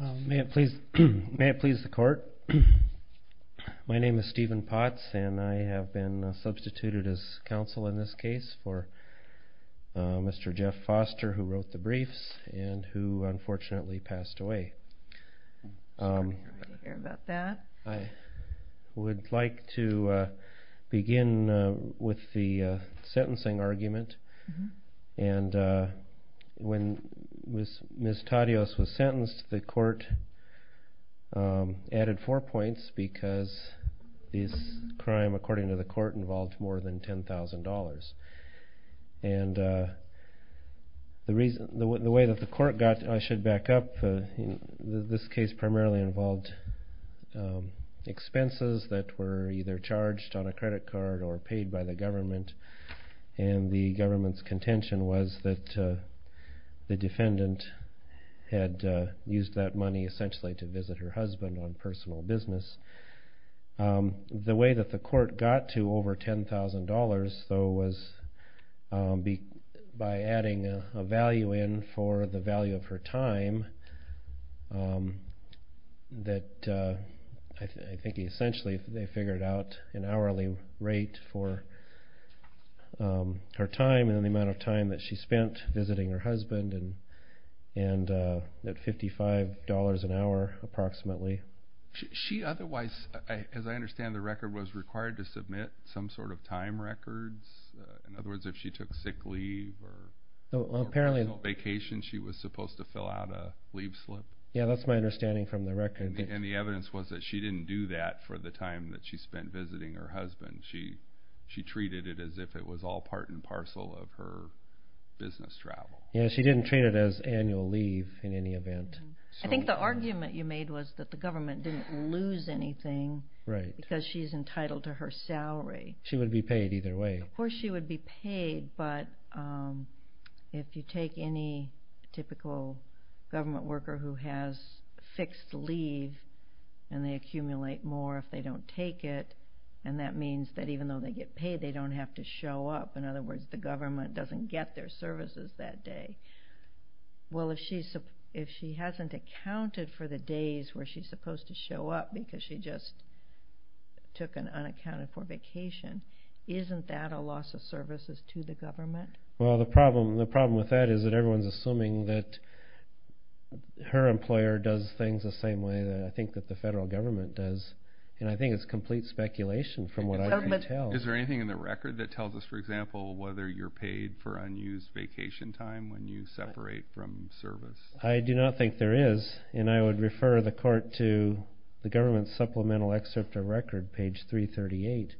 May it please the court, my name is Stephen Potts and I have been substituted as counsel in this case for Mr. Jeff Foster who wrote the briefs and who unfortunately passed away. I would like to begin with the sentencing argument and when Ms. Tadios was sentenced the court added four points because this crime according to the court involved more than $10,000 and the way that the court got, I should back up, this case primarily involved expenses that were either charged on a credit card or paid by the government and the government's contention was that the defendant had used that money essentially to visit her husband on personal business. The way that the court got to over $10,000 though was by adding a value in for the value of her time that I think essentially they figured out an hourly rate for her time and the amount of time that she spent visiting her husband at $55 an hour approximately. She otherwise as I understand the record was required to submit some sort of time records in other words if she took sick leave or personal vacation she was supposed to fill out a leave slip? Yeah that's my understanding from the record. And the evidence was that she didn't do that for the time that she spent visiting her husband she treated it as if it was all part and parcel of her business travel. Yeah she didn't treat it as annual leave in any event. I think the argument you made was that the government didn't lose anything because she's entitled to her salary. She would be paid either way. Of course she would be paid but if you take any typical government worker who has fixed leave and they accumulate more if they don't take it and that means that even though they get paid they don't have to show up in other words the government doesn't get their services that day. Well if she hasn't accounted for the days where she's supposed to show up because she just took an unaccounted for vacation isn't that a loss of services to the government? Well the problem with that is that everyone's assuming that her employer does things the same way that I think that the federal government does. And I think it's complete speculation from what I can tell. Is there anything in the record that tells us for example whether you're paid for unused vacation time when you separate from service? I do not think there is and I would refer the court to the government supplemental excerpt of record page 338.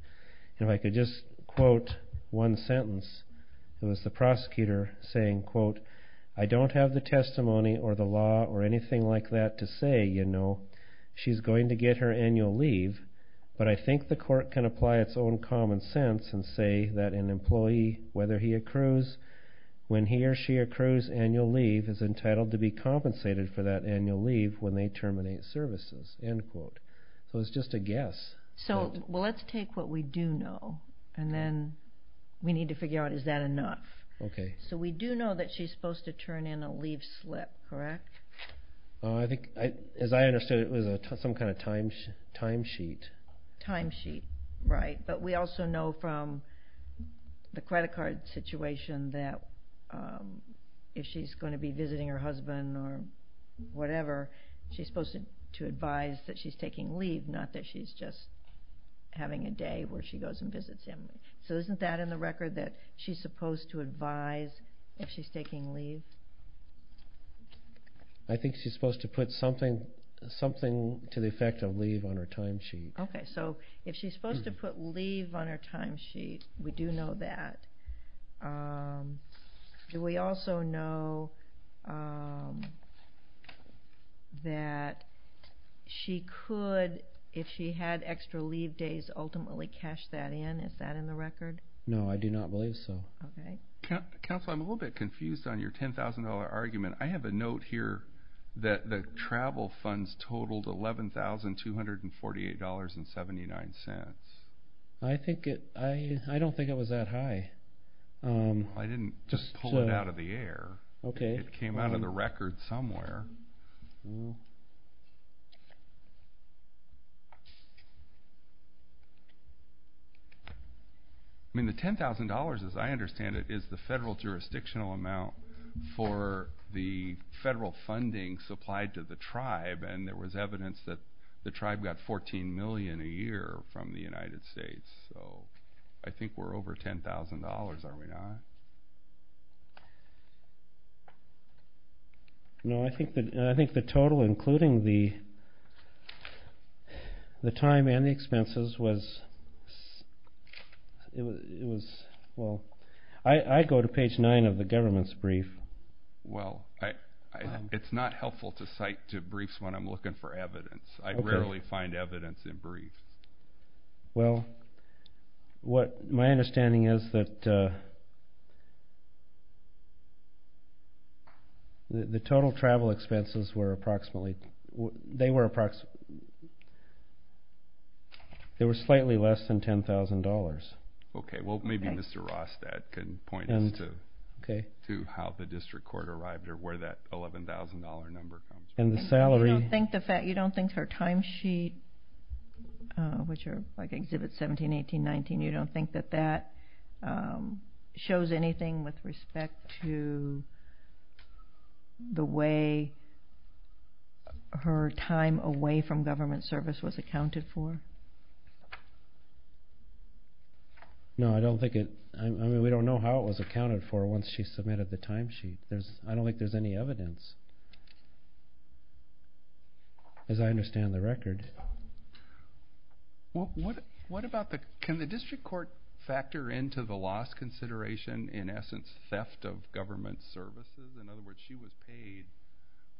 If I could just quote one sentence it was the prosecutor saying quote I don't have the testimony or the law or anything like that to say you know she's going to get her annual leave but I think the court can apply its own common sense and say that an employee whether he accrues when he or she accrues annual leave is entitled to be compensated for that annual leave when they terminate services. End quote. So it's just a guess. So well let's take what we do know and then we need to figure out is that enough? Okay. So we do know that she's supposed to turn in a leave slip correct? I think as I understood it was some kind of time sheet. Time sheet right but we also know from the credit card situation that if she's going to be visiting her husband or whatever she's supposed to advise that she's taking leave not that she's just having a day where she goes and visits him. So isn't that in the record that she's supposed to advise if she's taking leave? I think she's supposed to put something to the effect of leave on her time sheet. Okay so if she's supposed to put leave on her time sheet we do know that. Do we also know that she could if she had extra leave days ultimately cash that in? Is that in the record? No I do not believe so. Okay. Counselor I'm a little bit confused on your $10,000 argument. I have a note here that the travel funds totaled $11,248.79. I don't think it was that high. I didn't just pull it out of the air. Okay. It came out of the record somewhere. I mean the $10,000 as I understand it is the federal jurisdictional amount for the federal funding supplied to the tribe and there was evidence that the tribe got $14 million a year from the United States so I think we're over $10,000 are we not? No I think the total including the time and the expenses was well I go to page 9 of the government's brief. Well it's not helpful to cite to briefs when I'm looking for evidence. I rarely find evidence in briefs. Well what my understanding is that the total travel expenses were approximately they were approximately they were slightly less than $10,000. Okay well maybe Mr. Rostad can point us to how the district court arrived or where that $11,000 number comes from. You don't think the fact you don't think her time sheet which are like exhibit 17, 18, 19 you don't think that that shows anything with respect to the way her time away from government service was accounted for? No I don't think it I mean we don't know how it was accounted for once she submitted the time sheet there's I don't think there's any evidence. As I understand the record. What about the can the district court factor into the loss consideration in essence theft of government services in other words she was paid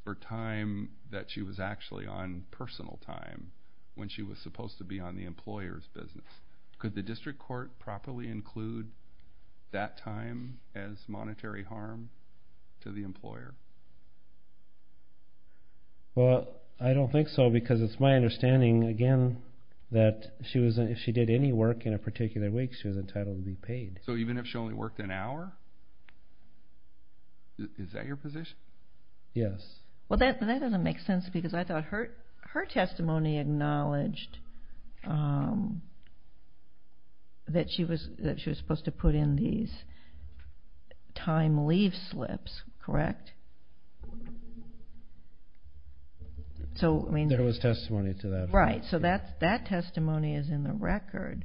for time that she was actually on personal time when she was supposed to be on the employer's business. Could the district court properly include that time as monetary harm to the employer? Well I don't think so because it's my understanding again that she was if she did any work in a particular week she was entitled to be paid. So even if she only worked an hour? Is that your position? Yes. Well that doesn't make sense because I thought her testimony acknowledged that she was that she was supposed to put in these time leave slips correct? There was testimony to that. Right so that that testimony is in the record.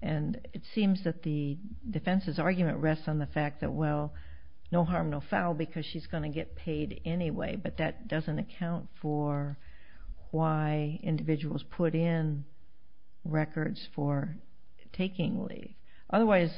And it seems that the defense's argument rests on the fact that well no harm no foul because she's going to get paid anyway but that doesn't account for why individuals put in records for taking leave. Otherwise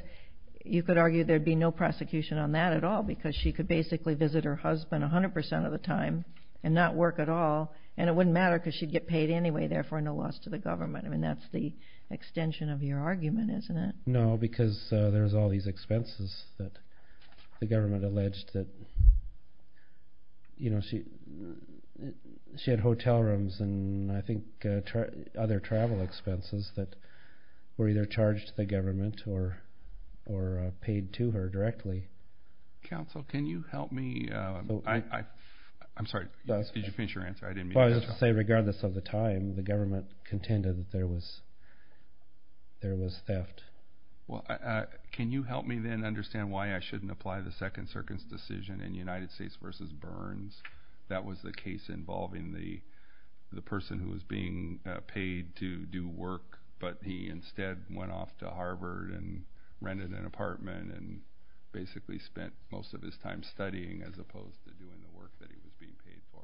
you could argue there'd be no prosecution on that at all because she could basically visit her husband 100% of the time and not work at all and it wouldn't matter because she'd get paid anyway therefore no loss to the government. I mean that's the extension of your argument isn't it? No because there's all these expenses that the government alleged that you know she she had hotel rooms and I think other travel expenses that were either charged to the government or or paid to her directly. Counsel can you help me? I'm sorry did you finish your answer? Well I was going to say regardless of the time the government contended that there was there was theft. Well can you help me then understand why I shouldn't apply the Second Circuit's decision in United States versus Burns that was the case involving the the person who was being paid to do work but he instead went off to Harvard and rented an apartment and basically spent most of his time studying as opposed to doing the work that he was being paid for.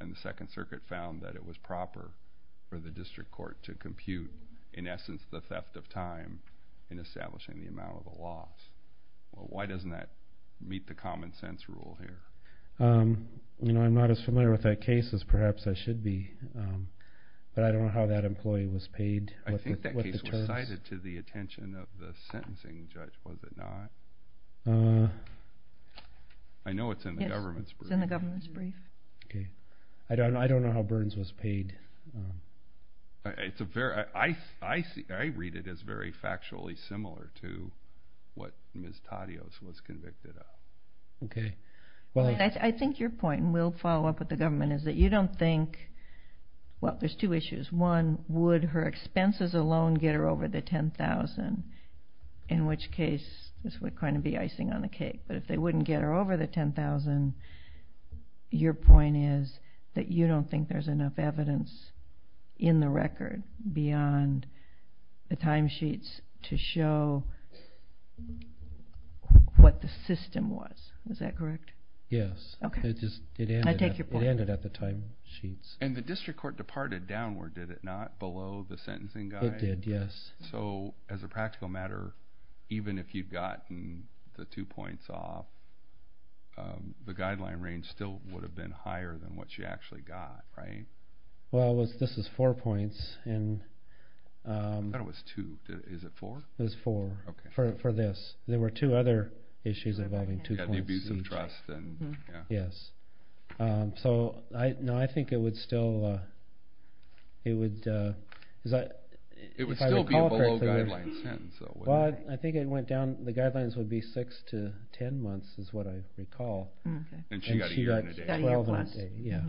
And the Second Circuit found that it was proper for the district court to compute in essence the theft of time in establishing the amount of the loss. Why doesn't that meet the common sense rule here? You know I'm not as familiar with that case as perhaps I should be but I don't know how that employee was paid. I think that case was cited to the attention of the sentencing judge was it not? I know it's in the government's brief. Okay I don't know I don't know how Burns was paid. It's a very I I see I read it as very factually similar to what Ms. Taddeos was convicted of. Okay well I think your point and we'll follow up with the government is that you don't think well there's two issues one would her expenses alone get her over the ten thousand in which case this would kind of be icing on the cake but if they wouldn't get her over the ten thousand your point is that you don't think there's enough evidence in the record beyond the timesheets to show what the system was. Is that correct? Yes. Okay. I take your point. It ended at the timesheets. And the district court departed downward did it not below the sentencing guide? It did yes. So as a practical matter even if you've gotten the two points off the guideline range still would have been higher than what you actually got right? Well this is four points and- I thought it was two is it four? It was four for this there were two other issues involving two points. Yeah the abuse of trust and yeah. Yes so I know I think it would still it would- It would still be below guideline ten so- Well I think it went down the guidelines would be six to ten months is what I recall. Okay. And she got a year in a day. Twelve months. Yes.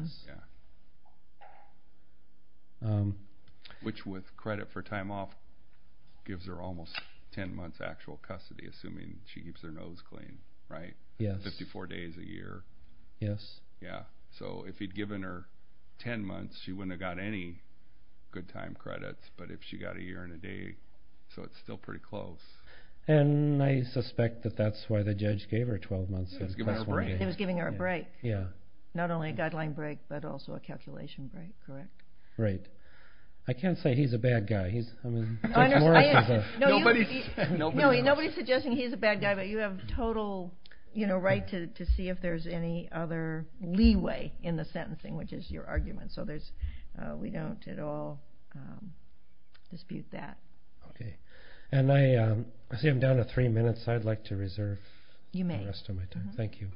Which with credit for time off gives her almost ten months actual custody assuming she keeps her nose clean right? Yes. Fifty four days a year. Yes. Yeah. So if he'd given her ten months she wouldn't have got any good time credits but if she got a year and a day so it's still pretty close. And I suspect that that's why the judge gave her twelve months. He was giving her a break. Yeah. Not only a guideline break but also a calculation break correct? Right. I can't say he's a bad guy he's- Nobody's suggesting he's a bad guy but you have total right to see if there's any other leeway in the sentencing which is your argument. So there's we don't at all dispute that. Okay. And I see I'm down to three minutes I'd like to reserve the rest of my time. You may. Thank you.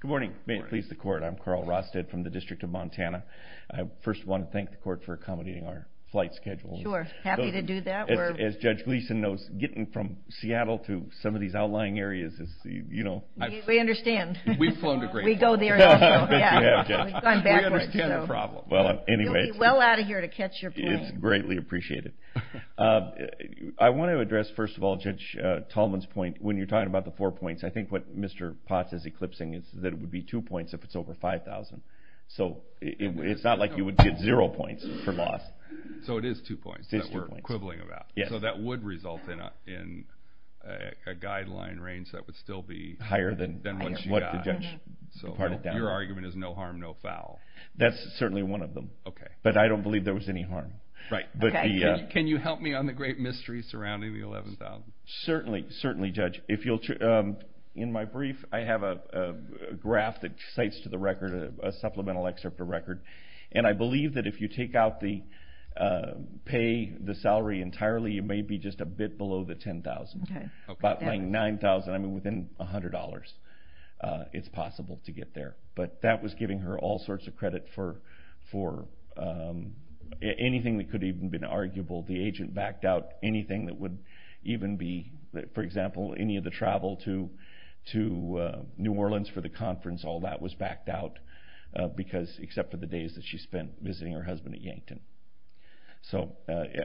Good morning. Good morning. May it please the court I'm Carl Rosted from the District of Montana. I first want to thank the court for accommodating our flight schedule. Sure. Happy to do that. As Judge Gleason knows getting from Seattle to some of these outlying areas is you know- We understand. We've flown to great lengths. We go there as well. Yeah. We've gone backwards. We understand the problem. Well anyway- You'll be well out of here to catch your plane. It's greatly appreciated. I want to address first of all Judge Tallman's point when you're talking about the four points I think what Mr. Potts is eclipsing is that it would be two points if it's over 5,000. So it's not like you would get zero points for loss. So it is two points. It is two points. That we're quibbling about. Yes. So that would result in a guideline range that would still be- Higher than what the judge parted down. So your argument is no harm no foul. That's certainly one of them. Okay. But I don't believe there was any harm. Right. But the- Can you help me on the great mystery surrounding the 11,000? Certainly. Certainly Judge. If you'll- In my brief I have a graph that cites to the record a supplemental excerpt of record. And I believe that if you take out the- pay the salary entirely you may be just a bit below the 10,000. Okay. About 9,000. I mean within $100 it's possible to get there. But that was giving her all sorts of credit for anything that could even have been arguable. The agent backed out anything that would even be- for example any of the travel to New Orleans for the conference. All that was backed out because- except for the days that she spent visiting her husband at Yankton. So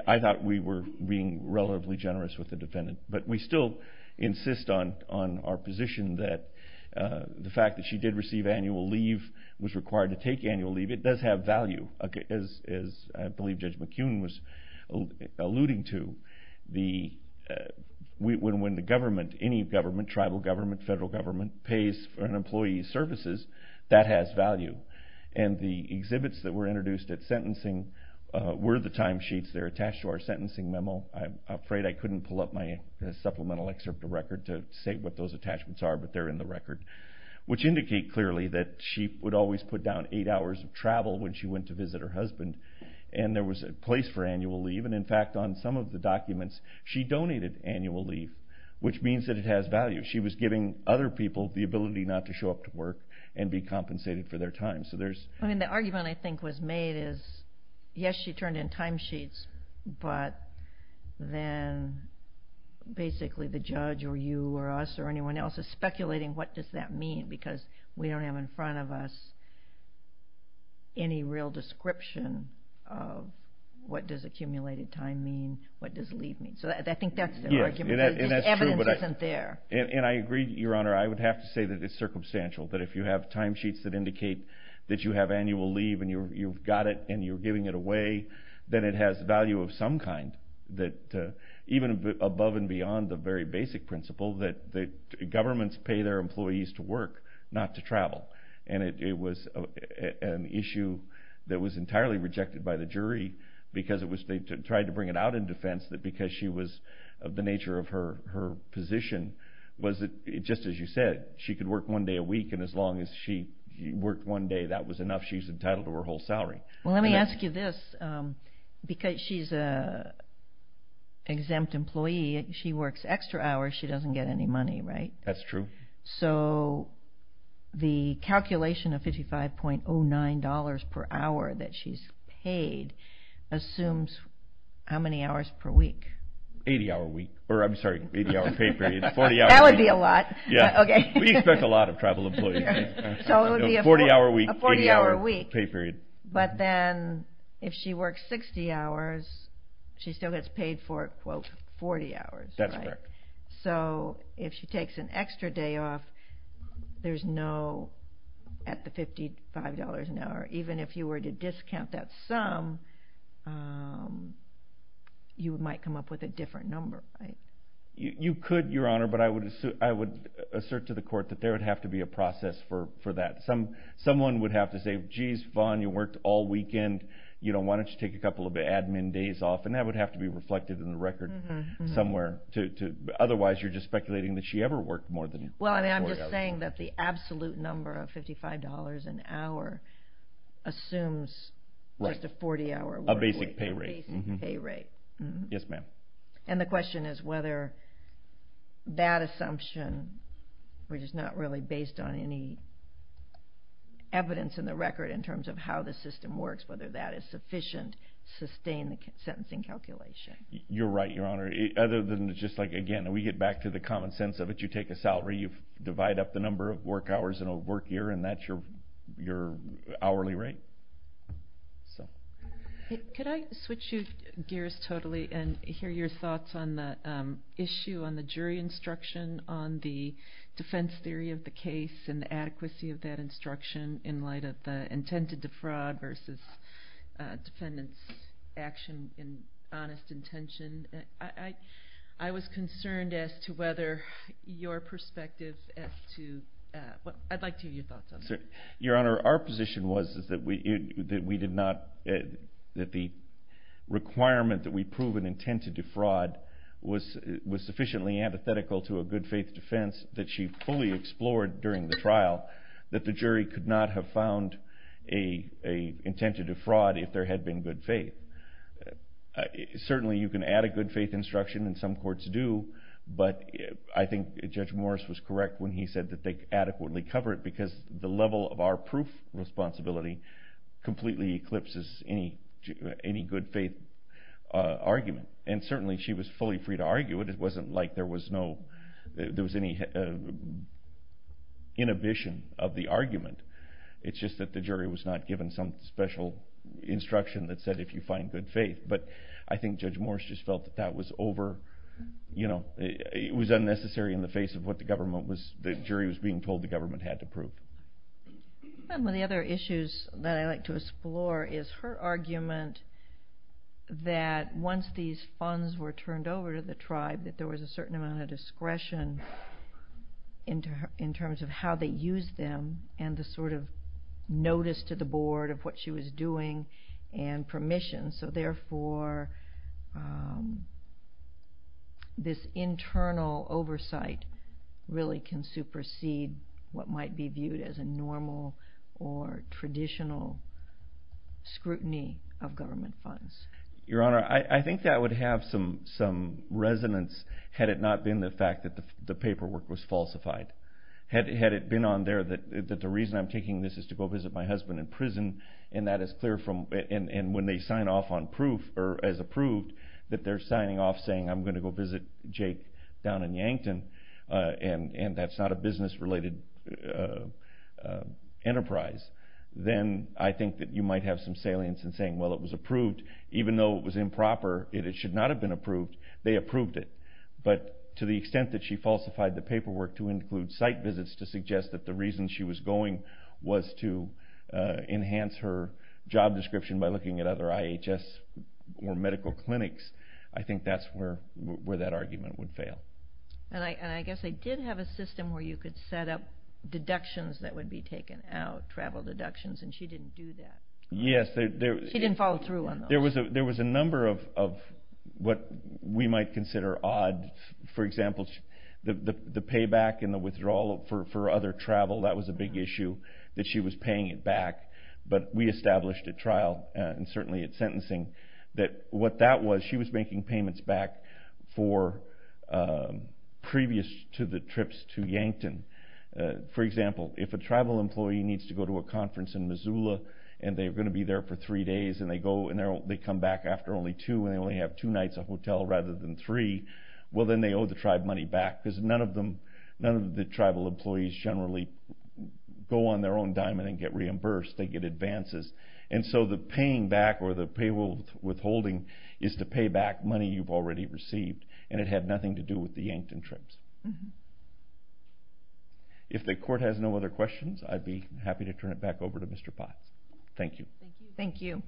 I thought we were being relatively generous with the defendant. But we still insist on our position that the fact that she did receive annual leave, was required to take annual leave, it does have value. As I believe Judge McKeown was alluding to. The- when the government, any government, tribal government, federal government, pays for an employee's services that has value. And the exhibits that were introduced at sentencing were the timesheets that are attached to our sentencing memo. I'm afraid I couldn't pull up my supplemental excerpt of record to say what those attachments are. But they're in the record. Which indicate clearly that she would always put down eight hours of travel when she went to visit her husband. And there was a place for annual leave. And in fact on some of the documents she donated annual leave. Which means that it has value. She was giving other people the ability not to show up to work and be compensated for their time. I mean the argument I think was made is, yes she turned in timesheets. But then basically the judge or you or us or anyone else is speculating what does that mean. Because we don't have in front of us any real description of what does accumulated time mean. What does leave mean. So I think that's the argument. Evidence isn't there. And I agree, Your Honor, I would have to say that it's circumstantial. That if you have timesheets that indicate that you have annual leave. And you've got it and you're giving it away. Then it has value of some kind. That even above and beyond the very basic principle. That governments pay their employees to work, not to travel. And it was an issue that was entirely rejected by the jury. Because they tried to bring it out in defense. That because she was of the nature of her position. Just as you said, she could work one day a week. And as long as she worked one day, that was enough. She's entitled to her whole salary. Well let me ask you this. Because she's an exempt employee, she works extra hours. She doesn't get any money, right? That's true. So the calculation of $55.09 per hour that she's paid. Assumes how many hours per week? 80 hour week. I'm sorry, 80 hour pay period. That would be a lot. We expect a lot of travel employees. 40 hour week, 80 hour pay period. But then if she works 60 hours, she still gets paid for quote 40 hours. That's correct. So if she takes an extra day off, there's no, at the $55 an hour. Even if you were to discount that sum, you might come up with a different number. You could, your honor. But I would assert to the court that there would have to be a process for that. Someone would have to say, jeez Vaughn, you worked all weekend. Why don't you take a couple of admin days off? And that would have to be reflected in the record somewhere. Otherwise you're just speculating that she ever worked more than 40 hours. Well I'm just saying that the absolute number of $55 an hour assumes just a 40 hour work week. A basic pay rate. A basic pay rate. Yes ma'am. And the question is whether that assumption, which is not really based on any evidence in the record in terms of how the system works. Whether that is sufficient to sustain the sentencing calculation. You're right, your honor. Other than just like again, we get back to the common sense of it. You take a salary, you divide up the number of work hours in a work year. And that's your hourly rate. Could I switch you gears totally and hear your thoughts on the issue on the jury instruction on the defense theory of the case and the adequacy of that instruction in light of the intent to defraud versus defendant's action in honest intention. I was concerned as to whether your perspective as to, I'd like to hear your thoughts on that. Your honor, our position was that the requirement that we prove an intent to defraud was sufficiently antithetical to a good faith defense that she fully explored during the trial. That the jury could not have found an intent to defraud if there had been good faith. Certainly you can add a good faith instruction, and some courts do. But I think Judge Morris was correct when he said that they adequately cover it because the level of our proof responsibility completely eclipses any good faith argument. And certainly she was fully free to argue it. It wasn't like there was any inhibition of the argument. It's just that the jury was not given some special instruction that said if you find good faith. But I think Judge Morris just felt that that was unnecessary in the face of what the jury was being told the government had to prove. One of the other issues that I like to explore is her argument that once these funds were turned over to the tribe that there was a certain amount of discretion in terms of how they used them and the sort of notice to the board of what she was doing and permission. So therefore this internal oversight really can supersede what might be viewed as a normal or traditional scrutiny of government funds. Your Honor, I think that would have some resonance had it not been the fact that the paperwork was falsified. Had it been on there that the reason I'm taking this is to go visit my husband in prison and when they sign off on proof or as approved that they're signing off saying I'm going to go visit Jake down in Yankton and that's not a business related enterprise. Then I think that you might have some salience in saying well it was approved even though it was improper and it should not have been approved, they approved it. But to the extent that she falsified the paperwork to include site visits to suggest that the reason she was going to prison was to enhance her job description by looking at other IHS or medical clinics, I think that's where that argument would fail. I guess they did have a system where you could set up deductions that would be taken out, travel deductions, and she didn't do that. Yes. She didn't follow through on those. There was a number of what we might consider odd. For example, the payback and the withdrawal for other travel, that was a big issue that she was paying it back. But we established at trial and certainly at sentencing that what that was, she was making payments back for previous trips to Yankton. For example, if a travel employee needs to go to a conference in Missoula and they're going to be there for three days and they come back after only two and they only have two nights of hotel rather than three, well then they owe the tribe money back because none of the tribal employees generally go on their own diamond and get reimbursed, they get advances. And so the paying back or the withholding is to pay back money you've already received and it had nothing to do with the Yankton trips. If the court has no other questions, I'd be happy to turn it back over to Mr. Potts. Thank you. Thank you.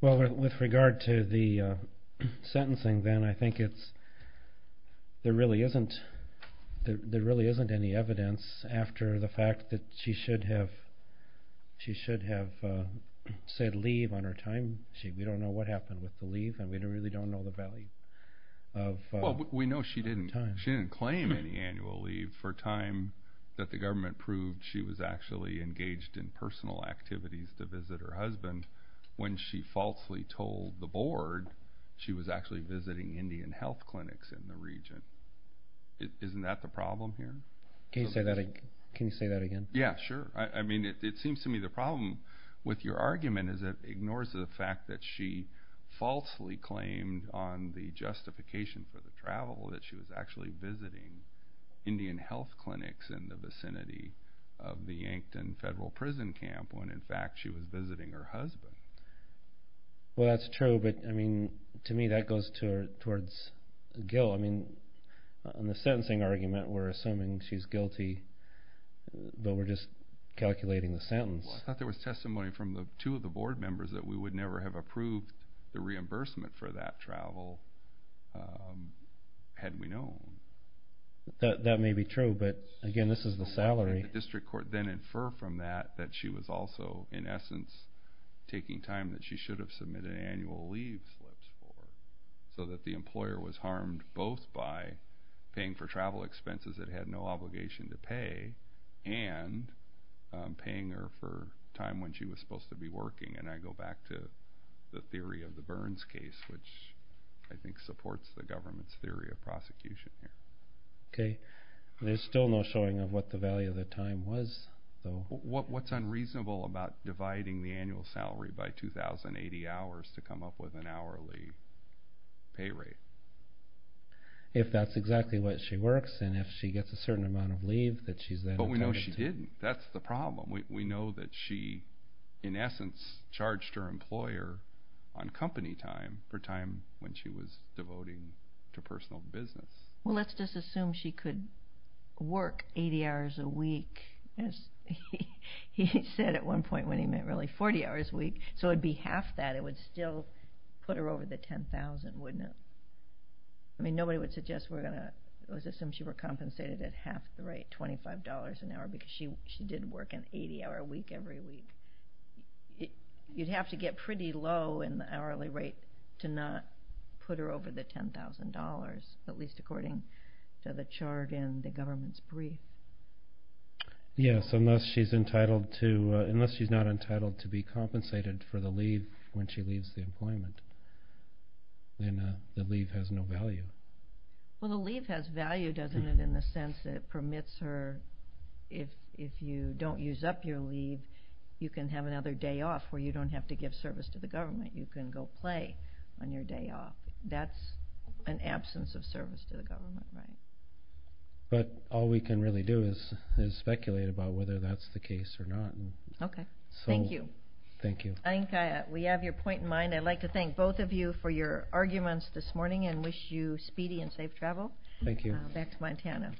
Well, with regard to the sentencing then, I think there really isn't any evidence after the fact that she should have said leave on her time. We don't know what happened with the leave and we really don't know the value of time. I mean, no, she didn't claim any annual leave for time that the government proved she was actually engaged in personal activities to visit her husband when she falsely told the board she was actually visiting Indian health clinics in the region. Isn't that the problem here? Can you say that again? Yeah, sure. I mean, it seems to me the problem with your argument is it ignores the fact that she falsely claimed on the justification for the travel that she was actually visiting Indian health clinics in the vicinity of the Yankton federal prison camp when, in fact, she was visiting her husband. Well, that's true, but, I mean, to me that goes towards guilt. I mean, on the sentencing argument we're assuming she's guilty, but we're just calculating the sentence. Well, I thought there was testimony from two of the board members that we would never have approved the reimbursement for that travel had we known. That may be true, but, again, this is the salary. The district court then inferred from that that she was also, in essence, taking time that she should have submitted annual leave slips for so that the employer was harmed both by paying for travel expenses that had no obligation to pay and paying her for time when she was supposed to be working. And I go back to the theory of the Burns case, which I think supports the government's theory of prosecution here. Okay. There's still no showing of what the value of the time was, though. What's unreasonable about dividing the annual salary by 2,080 hours to come up with an hourly pay rate? If that's exactly what she works and if she gets a certain amount of leave that she's then entitled to. But we know she didn't. That's the problem. We know that she, in essence, charged her employer on company time for time when she was devoting to personal business. Well, let's just assume she could work 80 hours a week, as he said at one point when he meant really 40 hours a week. So it would be half that. It would still put her over the $10,000, wouldn't it? I mean, nobody would suggest we're going to assume she were compensated at half the rate, $25 an hour, because she did work an 80-hour week every week. You'd have to get pretty low in the hourly rate to not put her over the $10,000, at least according to the chart in the government's brief. Yes, unless she's not entitled to be compensated for the leave when she leaves the employment. Then the leave has no value. Well, the leave has value, doesn't it, in the sense that it permits her if you don't use up your leave, you can have another day off where you don't have to give service to the government. You can go play on your day off. That's an absence of service to the government, right? But all we can really do is speculate about whether that's the case or not. Okay. Thank you. Thank you. I think we have your point in mind. I'd like to thank both of you for your arguments this morning and wish you speedy and safe travel. Thank you. Back to Montana.